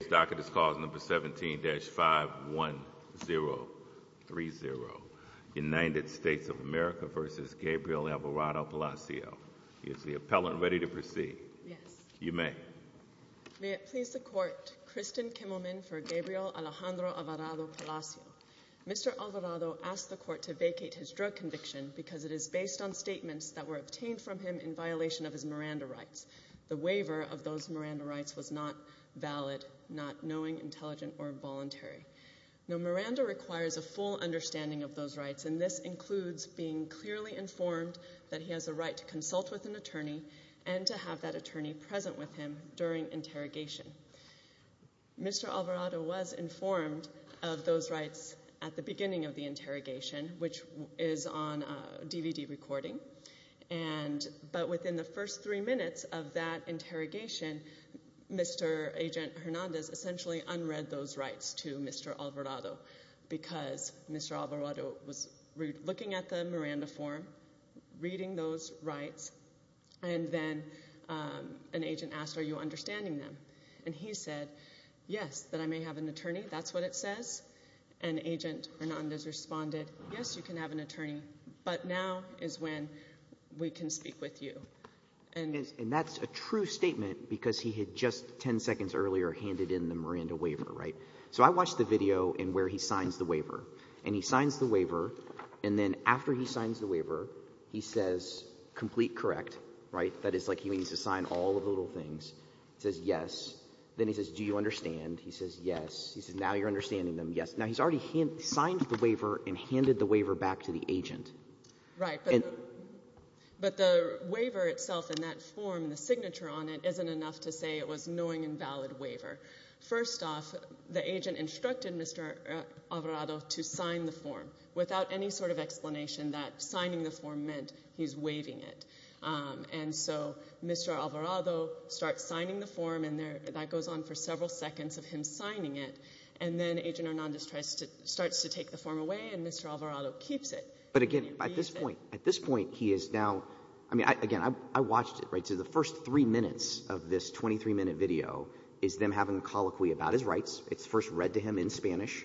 This docket is clause number 17-51030, United States of America v. Gabriel Alvarado-Palacio. Is the appellant ready to proceed? Yes. You may. May it please the court, Kristen Kimmelman for Gabriel Alejandro Alvarado-Palacio. Mr. Alvarado asked the court to vacate his drug conviction because it is based on statements that were obtained from him in violation of his Miranda rights. The waiver of those Miranda rights was not valid, not knowing, intelligent, or voluntary. Now, Miranda requires a full understanding of those rights, and this includes being clearly informed that he has a right to consult with an attorney and to have that attorney present with him during interrogation. Mr. Alvarado was informed of those rights at the beginning of the interrogation, which is on DVD recording, but within the first three minutes of that interrogation, Mr. Agent Hernandez essentially unread those rights to Mr. Alvarado because Mr. Alvarado was looking at the Miranda form, reading those rights, and then an agent asked, Are you understanding them? And he said, Yes, that I may have an attorney. That's what it says. And Agent Hernandez responded, Yes, you can have an attorney, but now is when we can speak with you. And that's a true statement because he had just 10 seconds earlier handed in the Miranda waiver, right? So I watched the video in where he signs the waiver, and he signs the waiver, and then after he signs the waiver, he says, Complete correct, right? That is, like, he needs to sign all of the little things. He says, Yes. Then he says, Do you understand? He says, Yes. He says, Now you're understanding them. Yes. Now, he's already signed the waiver and handed the waiver back to the agent. Right. But the waiver itself in that form, the signature on it, isn't enough to say it was knowing and valid waiver. First off, the agent instructed Mr. Alvarado to sign the form without any sort of explanation that signing the form meant he's waiving it. And so Mr. Alvarado starts signing the form, and that goes on for several seconds of him signing it, and then Agent Hernandez starts to take the form away, and Mr. Alvarado keeps it. But again, at this point, at this point, he is now – I mean, again, I watched it, right? So the first three minutes of this 23-minute video is them having a colloquy about his rights. It's first read to him in Spanish,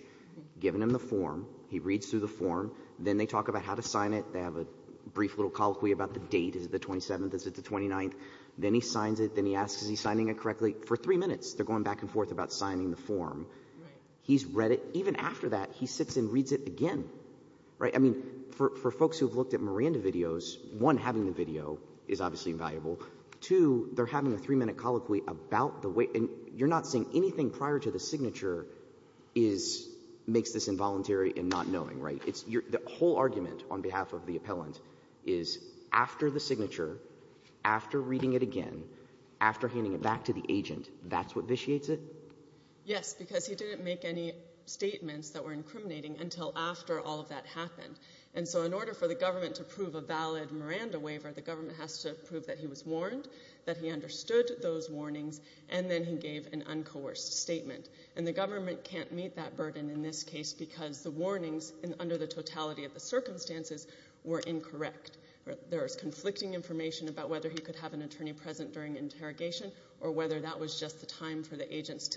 given him the form. He reads through the form. Then they talk about how to sign it. They have a brief little colloquy about the date. Is it the 27th? Is it the 29th? Then he signs it. Then he asks, Is he signing it correctly? For three minutes, they're going back and forth about signing the form. He's read it. Even after that, he sits and reads it again, right? I mean, for folks who have looked at Miranda videos, one, having the video is obviously invaluable. Two, they're having a three-minute colloquy about the way – and you're not saying anything prior to the signature is – makes this involuntary and not knowing, right? It's your – the whole argument on behalf of the appellant is after the signature, after reading it again, after handing it back to the agent, that's what vitiates it? Yes, because he didn't make any statements that were incriminating until after all of that happened. And so in order for the government to prove a valid Miranda waiver, the government has to prove that he was warned, that he understood those warnings, and then he gave an uncoerced statement. And the government can't meet that burden in this case because the warnings, under the totality of the circumstances, were incorrect. There is conflicting information about whether he could have an attorney present during interrogation or whether that was just the time for the agents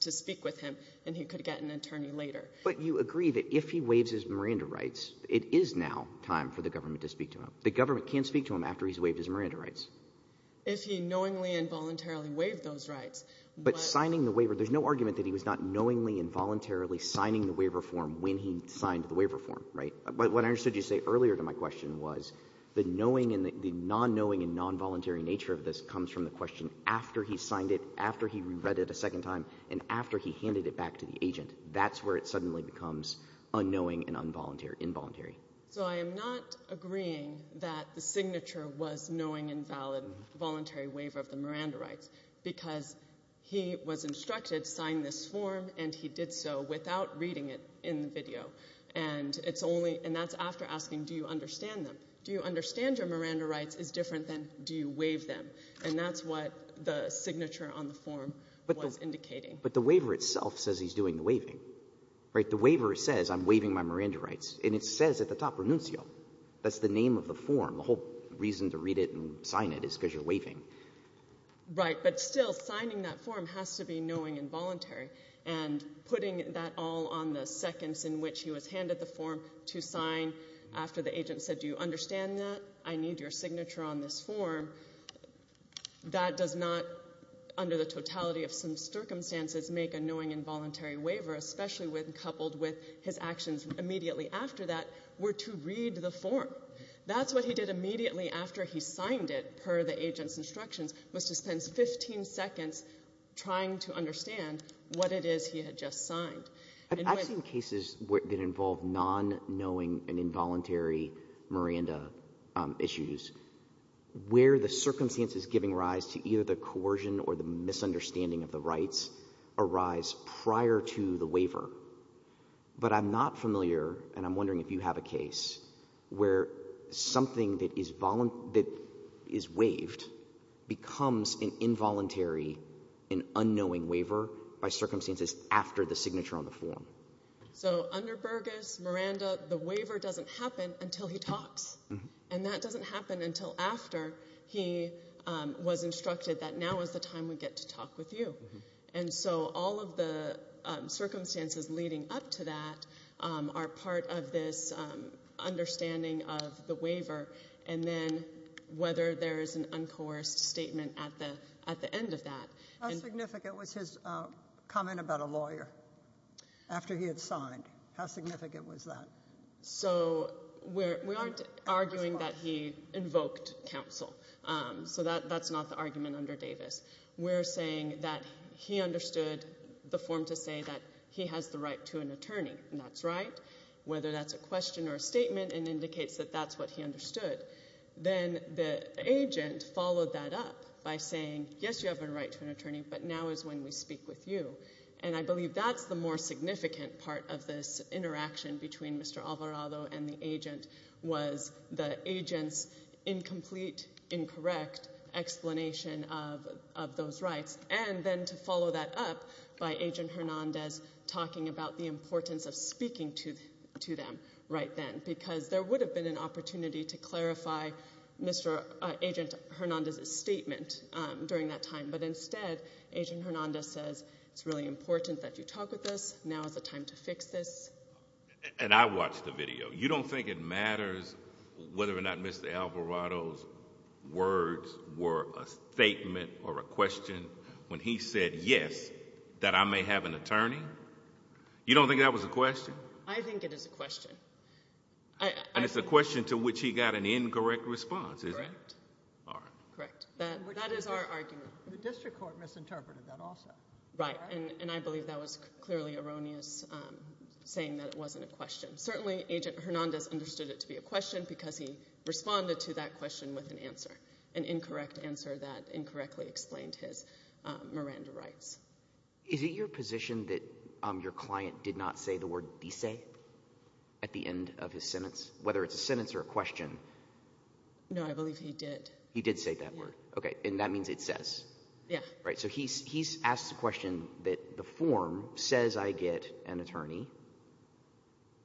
to speak with him and he could get an attorney later. But you agree that if he waives his Miranda rights, it is now time for the government to speak to him. The government can't speak to him after he's waived his Miranda rights. If he knowingly and voluntarily waived those rights, what – But signing the waiver, there's no argument that he was not knowingly and voluntarily signing the waiver form when he signed the waiver form, right? What I understood you say earlier to my question was the knowing and the nonknowing and nonvoluntary nature of this comes from the question after he signed it, after he read it a second time, and after he handed it back to the agent. That's where it suddenly becomes unknowing and involuntary. So I am not agreeing that the signature was knowing and valid voluntary waiver of the Miranda rights because he was instructed to sign this form and he did so without reading it in the video. And it's only – and that's after asking do you understand them. Do you understand your Miranda rights is different than do you waive them. And that's what the signature on the form was indicating. But the waiver itself says he's doing the waiving, right? The waiver says I'm waiving my Miranda rights. And it says at the top, renuncio. That's the name of the form. The whole reason to read it and sign it is because you're waiving. Right. But still, signing that form has to be knowing and voluntary. And putting that all on the seconds in which he was handed the form to sign after the agent said do you understand that, I need your signature on this form, that does not, under the totality of some circumstances, make a knowing and voluntary waiver, especially when coupled with his actions immediately after that were to read the form. That's what he did immediately after he signed it, per the agent's instructions, was to spend 15 seconds trying to understand what it is he had just signed. I've seen cases that involve non-knowing and involuntary Miranda issues where the circumstances giving rise to either the coercion or the misunderstanding of the rights arise prior to the waiver. But I'm not familiar, and I'm wondering if you have a case, where something that is waived becomes an involuntary and unknowing waiver by circumstances after the signature on the form. So under Burgess, Miranda, the waiver doesn't happen until he talks. And that doesn't happen until after he was instructed that now is the time we get to talk with you. And so all of the circumstances leading up to that are part of this understanding of the waiver and then whether there is an uncoerced statement at the end of that. How significant was his comment about a lawyer after he had signed? How significant was that? So we aren't arguing that he invoked counsel. So that's not the argument under Davis. We're saying that he understood the form to say that he has the right to an attorney, and that's right. Whether that's a question or a statement, it indicates that that's what he understood. Then the agent followed that up by saying, yes, you have a right to an attorney, but now is when we speak with you. And I believe that's the more significant part of this interaction between Mr. Alvarado and the agent was the agent's incomplete, incorrect explanation of those rights. And then to follow that up by Agent Hernandez talking about the importance of speaking to them right then, because there would have been an opportunity to clarify Agent Hernandez's statement during that time. But instead, Agent Hernandez says it's really important that you talk with us. Now is the time to fix this. And I watched the video. You don't think it matters whether or not Mr. Alvarado's words were a statement or a question when he said, yes, that I may have an attorney? You don't think that was a question? I think it is a question. And it's a question to which he got an incorrect response, isn't it? Correct. All right. Correct. That is our argument. The district court misinterpreted that also. Right. And I believe that was clearly erroneous, saying that it wasn't a question. Certainly Agent Hernandez understood it to be a question because he responded to that question with an answer, an incorrect answer that incorrectly explained his Miranda rights. Is it your position that your client did not say the word disay at the end of his sentence, whether it's a sentence or a question? No, I believe he did. He did say that word. Okay. And that means it says. Yeah. Right. So he asks the question that the form says I get an attorney.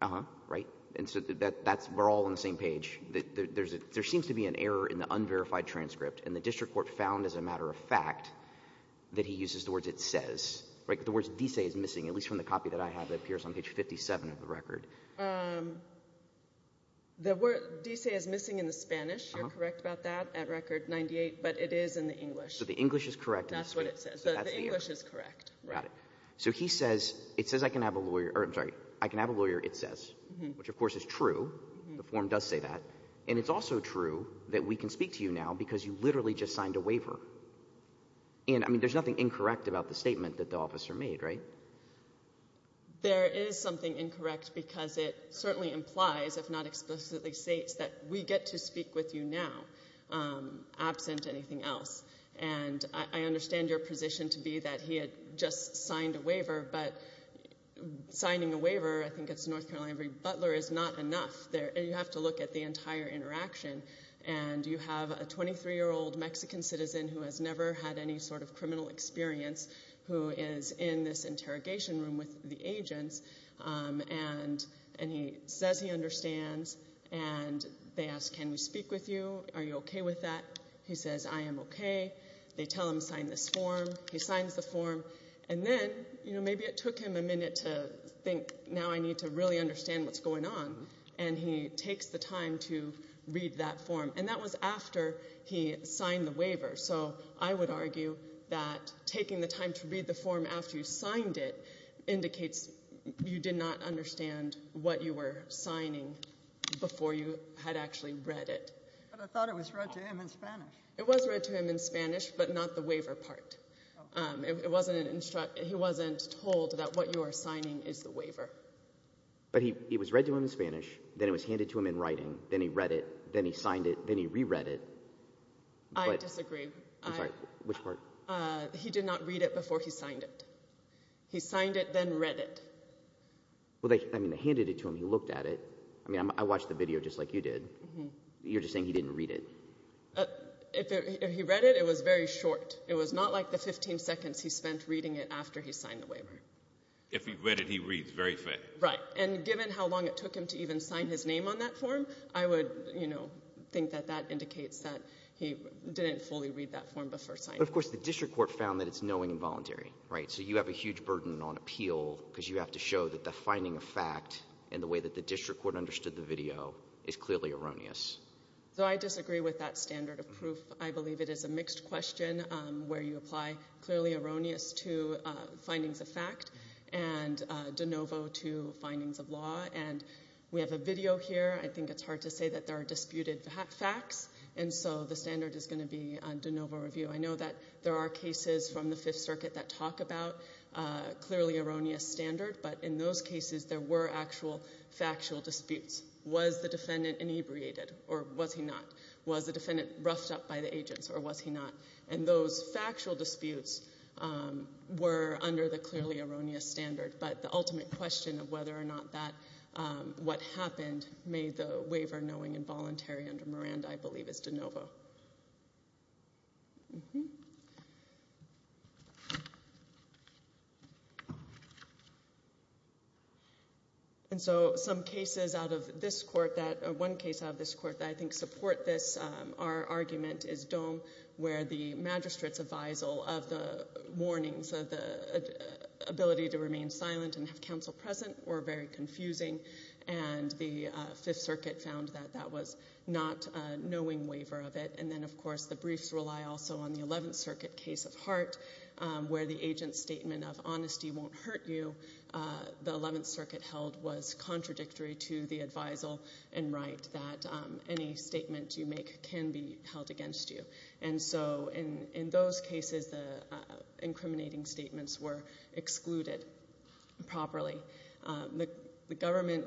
Uh-huh. Right. And so we're all on the same page. There seems to be an error in the unverified transcript. And the district court found, as a matter of fact, that he uses the words it says. The word disay is missing, at least from the copy that I have that appears on page 57 of the record. The word disay is missing in the Spanish. You're correct about that at record 98. But it is in the English. So the English is correct. That's what it says. The English is correct. Got it. So he says it says I can have a lawyer. I'm sorry. I can have a lawyer it says, which, of course, is true. The form does say that. And it's also true that we can speak to you now because you literally just signed a waiver. And, I mean, there's nothing incorrect about the statement that the officer made, right? There is something incorrect because it certainly implies, if not explicitly states, that we get to speak with you now absent anything else. And I understand your position to be that he had just signed a waiver. But signing a waiver, I think it's North Carolina every butler, is not enough. You have to look at the entire interaction. And you have a 23-year-old Mexican citizen who has never had any sort of criminal experience who is in this interrogation room with the agents. And he says he understands. And they ask, can we speak with you? Are you okay with that? He says, I am okay. They tell him to sign this form. He signs the form. And then, you know, maybe it took him a minute to think, now I need to really understand what's going on. And he takes the time to read that form. And that was after he signed the waiver. So I would argue that taking the time to read the form after you signed it indicates you did not understand what you were signing before you had actually read it. But I thought it was read to him in Spanish. It was read to him in Spanish, but not the waiver part. He wasn't told that what you are signing is the waiver. But it was read to him in Spanish. Then it was handed to him in writing. Then he read it. Then he signed it. Then he reread it. I disagree. I'm sorry. Which part? He did not read it before he signed it. He signed it, then read it. Well, I mean, they handed it to him. He looked at it. I mean, I watched the video just like you did. You're just saying he didn't read it. If he read it, it was very short. It was not like the 15 seconds he spent reading it after he signed the waiver. If he read it, he reads very fast. Right. And given how long it took him to even sign his name on that form, I would, you know, think that that indicates that he didn't fully read that form before signing it. But, of course, the district court found that it's knowing and voluntary, right? So you have a huge burden on appeal because you have to show that the finding of fact and the way that the district court understood the video is clearly erroneous. So I disagree with that standard of proof. I believe it is a mixed question where you apply clearly erroneous to findings of fact and de novo to findings of law. And we have a video here. I think it's hard to say that there are disputed facts. And so the standard is going to be de novo review. I know that there are cases from the Fifth Circuit that talk about clearly erroneous standard. But in those cases, there were actual factual disputes. Was the defendant inebriated or was he not? Was the defendant roughed up by the agents or was he not? And those factual disputes were under the clearly erroneous standard. But the ultimate question of whether or not that what happened made the waiver knowing and voluntary under Miranda, I believe, is de novo. And so some cases out of this court that one case out of this court that I think support this, our argument is Dome where the magistrate's advisal of the warnings of the ability to remain silent and have counsel present were very confusing. And the Fifth Circuit found that that was not a knowing waiver of it. And then, of course, the briefs rely also on the Eleventh Circuit case of Hart where the agent's statement of honesty won't hurt you, the Eleventh Circuit held was contradictory to the advisal and right that any statement you make can be held against you. And so in those cases, the incriminating statements were excluded properly. The government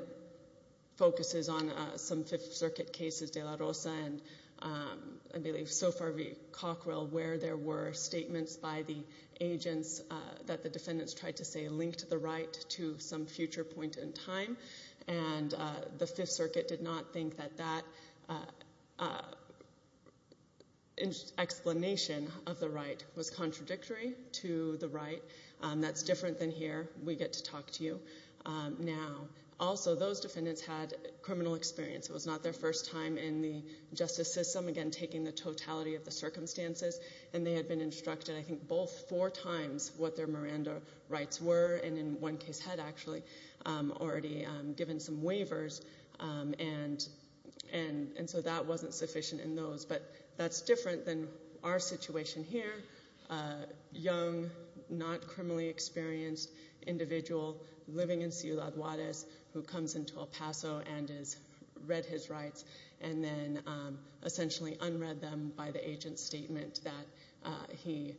focuses on some Fifth Circuit cases, De La Rosa and, I believe, Sofar v. Cockrell, where there were statements by the agents that the defendants tried to say linked the right to some future point in time. And the Fifth Circuit did not think that that explanation of the right was contradictory to the right. That's different than here. We get to talk to you now. Also, those defendants had criminal experience. It was not their first time in the justice system, again, taking the totality of the circumstances. And they had been instructed I think both four times what their Miranda rights were and in one case had actually already given some waivers. And so that wasn't sufficient in those. But that's different than our situation here. A young, not criminally experienced individual living in Ciudad Juarez who comes into El Paso and has read his rights and then essentially unread them by the agent's statement that he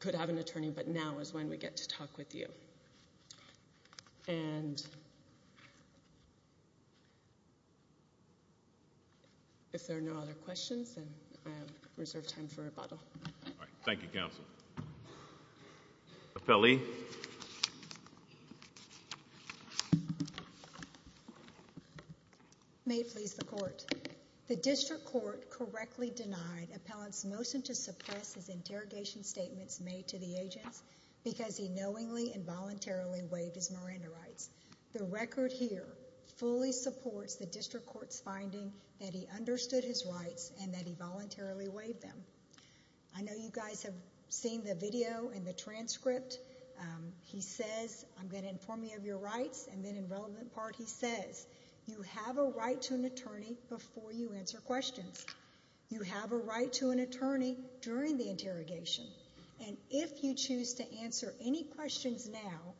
could have an attorney, but now is when we get to talk with you. And if there are no other questions, then I have reserved time for rebuttal. All right. Thank you, counsel. Appellee. May it please the Court. The district court correctly denied appellant's motion to suppress his interrogation statements made to the agents because he knowingly and voluntarily waived his Miranda rights. The record here fully supports the district court's finding that he understood his rights and that he voluntarily waived them. I know you guys have seen the video and the transcript. He says, I'm going to inform you of your rights, and then in relevant part he says, you have a right to an attorney before you answer questions. You have a right to an attorney during the interrogation. And if you choose to answer any questions now,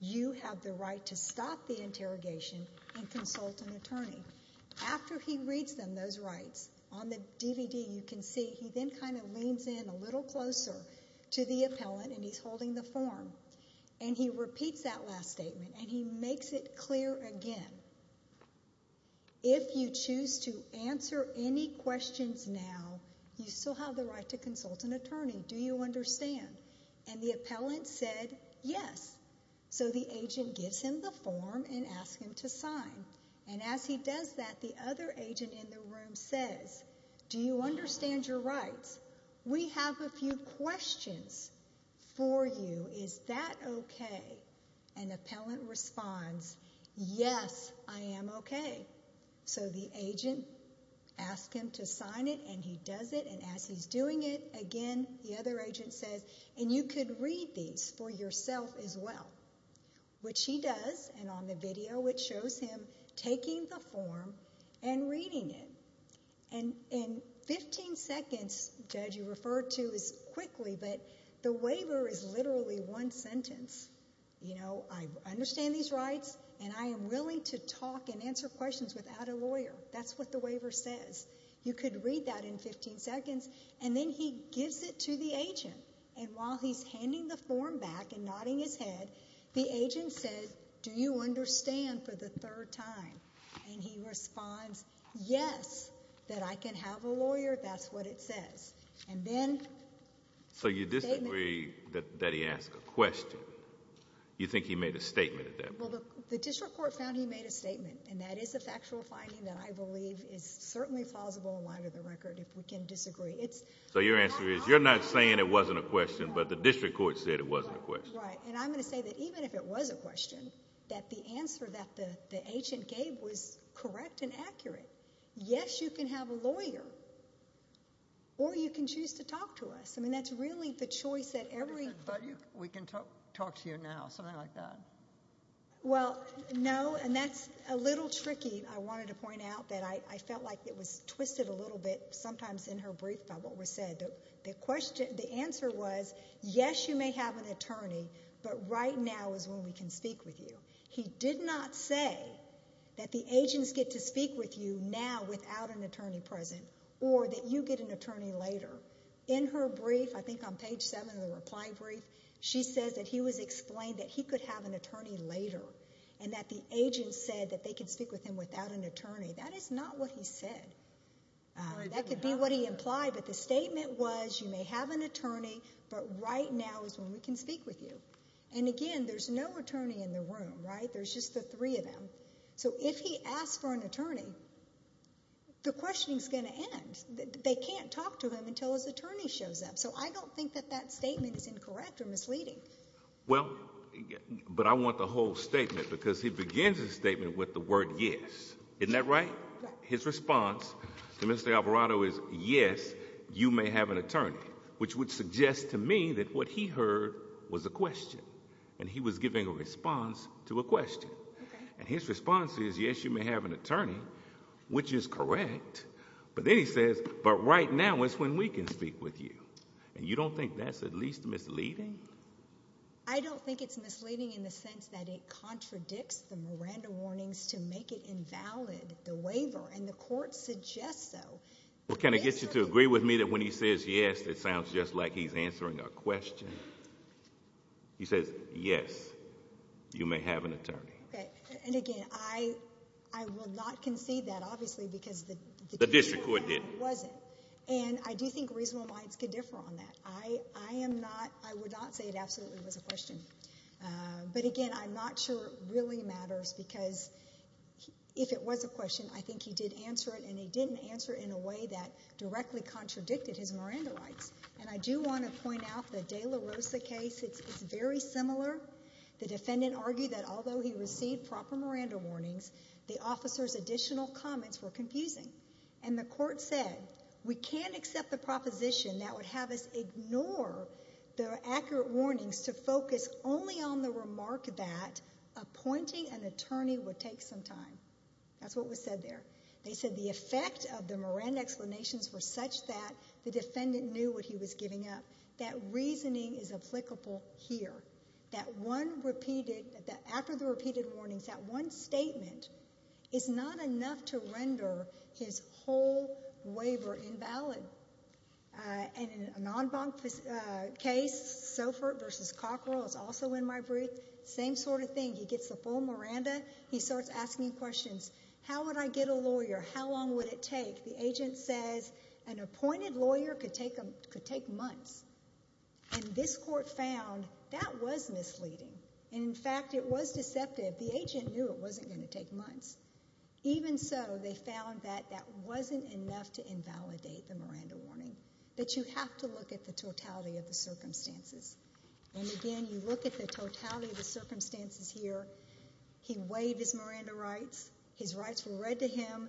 you have the right to stop the interrogation and consult an attorney. After he reads them, those rights, on the DVD you can see he then kind of leans in a little closer to the appellant and he's holding the form. And he repeats that last statement, and he makes it clear again. If you choose to answer any questions now, you still have the right to consult an attorney. Do you understand? And the appellant said, yes. So the agent gives him the form and asks him to sign. And as he does that, the other agent in the room says, do you understand your rights? We have a few questions for you. Is that okay? And the appellant responds, yes, I am okay. So the agent asks him to sign it, and he does it. And as he's doing it again, the other agent says, and you could read these for yourself as well, which he does, and on the video it shows him taking the form and reading it. And in 15 seconds, Judge, you referred to as quickly, but the waiver is literally one sentence. I understand these rights, and I am willing to talk and answer questions without a lawyer. That's what the waiver says. You could read that in 15 seconds. And then he gives it to the agent. And while he's handing the form back and nodding his head, the agent said, do you understand for the third time? And he responds, yes, that I can have a lawyer. That's what it says. So you disagree that he asked a question? You think he made a statement at that point? Well, the district court found he made a statement, and that is a factual finding that I believe is certainly plausible and line of the record if we can disagree. So your answer is you're not saying it wasn't a question, but the district court said it wasn't a question. Right, and I'm going to say that even if it was a question, that the answer that the agent gave was correct and accurate. Yes, you can have a lawyer, or you can choose to talk to us. I mean, that's really the choice that every ---- But we can talk to you now, something like that. Well, no, and that's a little tricky. I wanted to point out that I felt like it was twisted a little bit sometimes in her brief about what was said. The answer was, yes, you may have an attorney, but right now is when we can speak with you. He did not say that the agents get to speak with you now without an attorney present or that you get an attorney later. In her brief, I think on page 7 of the reply brief, she says that he was explained that he could have an attorney later and that the agent said that they could speak with him without an attorney. That is not what he said. That could be what he implied, but the statement was you may have an attorney, but right now is when we can speak with you. And, again, there's no attorney in the room, right? There's just the three of them. So if he asks for an attorney, the questioning is going to end. They can't talk to him until his attorney shows up. So I don't think that that statement is incorrect or misleading. Well, but I want the whole statement because he begins his statement with the word yes. Isn't that right? His response to Mr. Alvarado is yes, you may have an attorney, which would suggest to me that what he heard was a question, and he was giving a response to a question. And his response is yes, you may have an attorney, which is correct, but then he says but right now is when we can speak with you. And you don't think that's at least misleading? I don't think it's misleading in the sense that it contradicts the Miranda warnings to make it invalid, the waiver, and the court suggests so. Well, can I get you to agree with me that when he says yes, it sounds just like he's answering a question? He says yes, you may have an attorney. Okay. And, again, I will not concede that, obviously, because the district court didn't. The district court didn't. It wasn't. And I do think reasonable minds could differ on that. I am not, I would not say it absolutely was a question. But, again, I'm not sure it really matters because if it was a question, I think he did answer it, and he didn't answer it in a way that directly contradicted his Miranda rights. And I do want to point out the de la Rosa case. It's very similar. The defendant argued that although he received proper Miranda warnings, the officer's additional comments were confusing. And the court said, we can't accept the proposition that would have us ignore the accurate warnings to focus only on the remark that appointing an attorney would take some time. That's what was said there. They said the effect of the Miranda explanations were such that the defendant knew what he was giving up. That reasoning is applicable here. That one repeated, after the repeated warnings, that one statement is not enough to render his whole waiver invalid. And in an en banc case, Sofort v. Cockrell, it's also in my brief, same sort of thing. He gets the full Miranda. He starts asking questions. How would I get a lawyer? How long would it take? The agent says an appointed lawyer could take months. And this court found that was misleading. And, in fact, it was deceptive. The agent knew it wasn't going to take months. Even so, they found that that wasn't enough to invalidate the Miranda warning, that you have to look at the totality of the circumstances. And, again, you look at the totality of the circumstances here. He waived his Miranda rights. His rights were read to him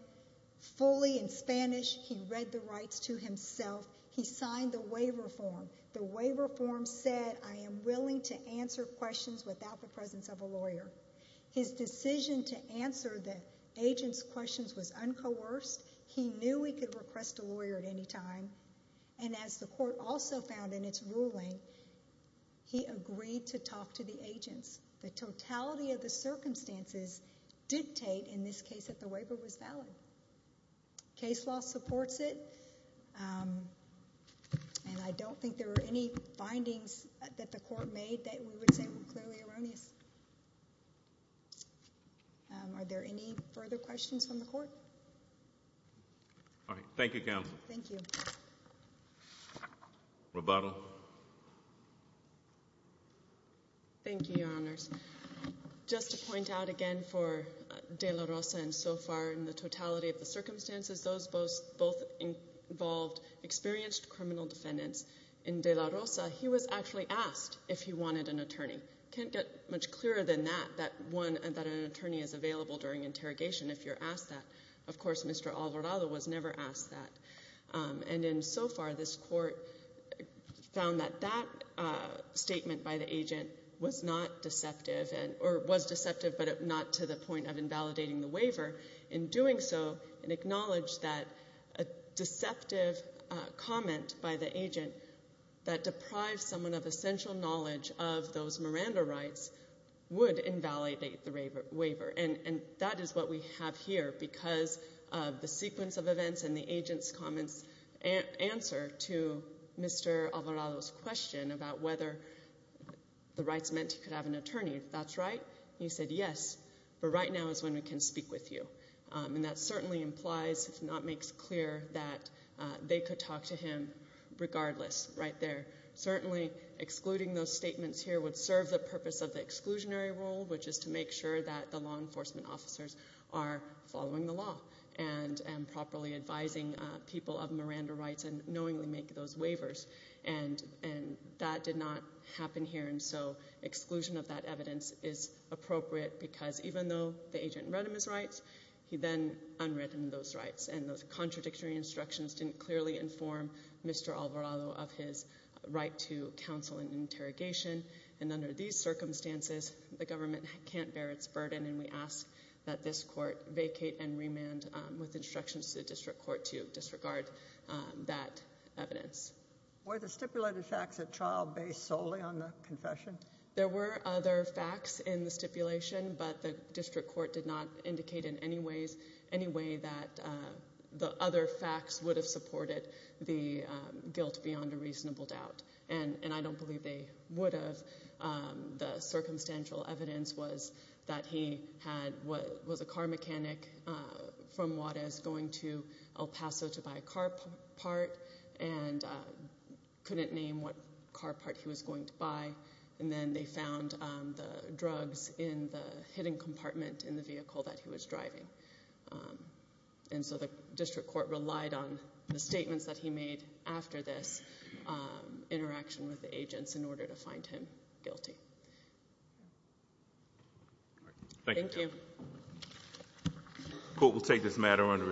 fully in Spanish. He read the rights to himself. He signed the waiver form. The waiver form said, I am willing to answer questions without the presence of a lawyer. His decision to answer the agent's questions was uncoerced. He knew he could request a lawyer at any time. And, as the court also found in its ruling, he agreed to talk to the agents. The totality of the circumstances dictate, in this case, that the waiver was valid. Case law supports it. And I don't think there were any findings that the court made that we would say were clearly erroneous. Are there any further questions from the court? All right. Thank you, Counsel. Roboto. Thank you, Your Honors. Just to point out again for De La Rosa and Sofar, in the totality of the circumstances, those both involved experienced criminal defendants. In De La Rosa, he was actually asked if he wanted an attorney. Can't get much clearer than that, that an attorney is available during interrogation if you're asked that. Of course, Mr. Alvarado was never asked that. And in Sofar, this court found that that statement by the agent was not deceptive or was deceptive but not to the point of invalidating the waiver. In doing so, it acknowledged that a deceptive comment by the agent that deprived someone of essential knowledge of those Miranda rights would invalidate the waiver. And that is what we have here because of the sequence of events and the agent's comments answer to Mr. Alvarado's question about whether the rights meant he could have an attorney. If that's right, he said yes, but right now is when we can speak with you. And that certainly implies, if not makes clear, that they could talk to him regardless right there. Certainly, excluding those statements here would serve the purpose of the exclusionary rule, which is to make sure that the law enforcement officers are following the law and properly advising people of Miranda rights and knowingly make those waivers. And that did not happen here, and so exclusion of that evidence is appropriate because even though the agent read him his rights, he then unread him those rights. And those contradictory instructions didn't clearly inform Mr. Alvarado of his right to counsel and interrogation. And under these circumstances, the government can't bear its burden, and we ask that this court vacate and remand with instructions to the district court to disregard that evidence. Were the stipulated facts at trial based solely on the confession? There were other facts in the stipulation, but the district court did not indicate in any way that the other facts would have supported the guilt beyond a reasonable doubt. And I don't believe they would have. The circumstantial evidence was that he was a car mechanic from Juarez going to El Paso to buy a car part and couldn't name what car part he was going to buy, and then they found the drugs in the hidden compartment in the vehicle that he was driving. And so the district court relied on the statements that he made after this interaction with the agents in order to find him guilty. Thank you. The court will take this matter under advisement.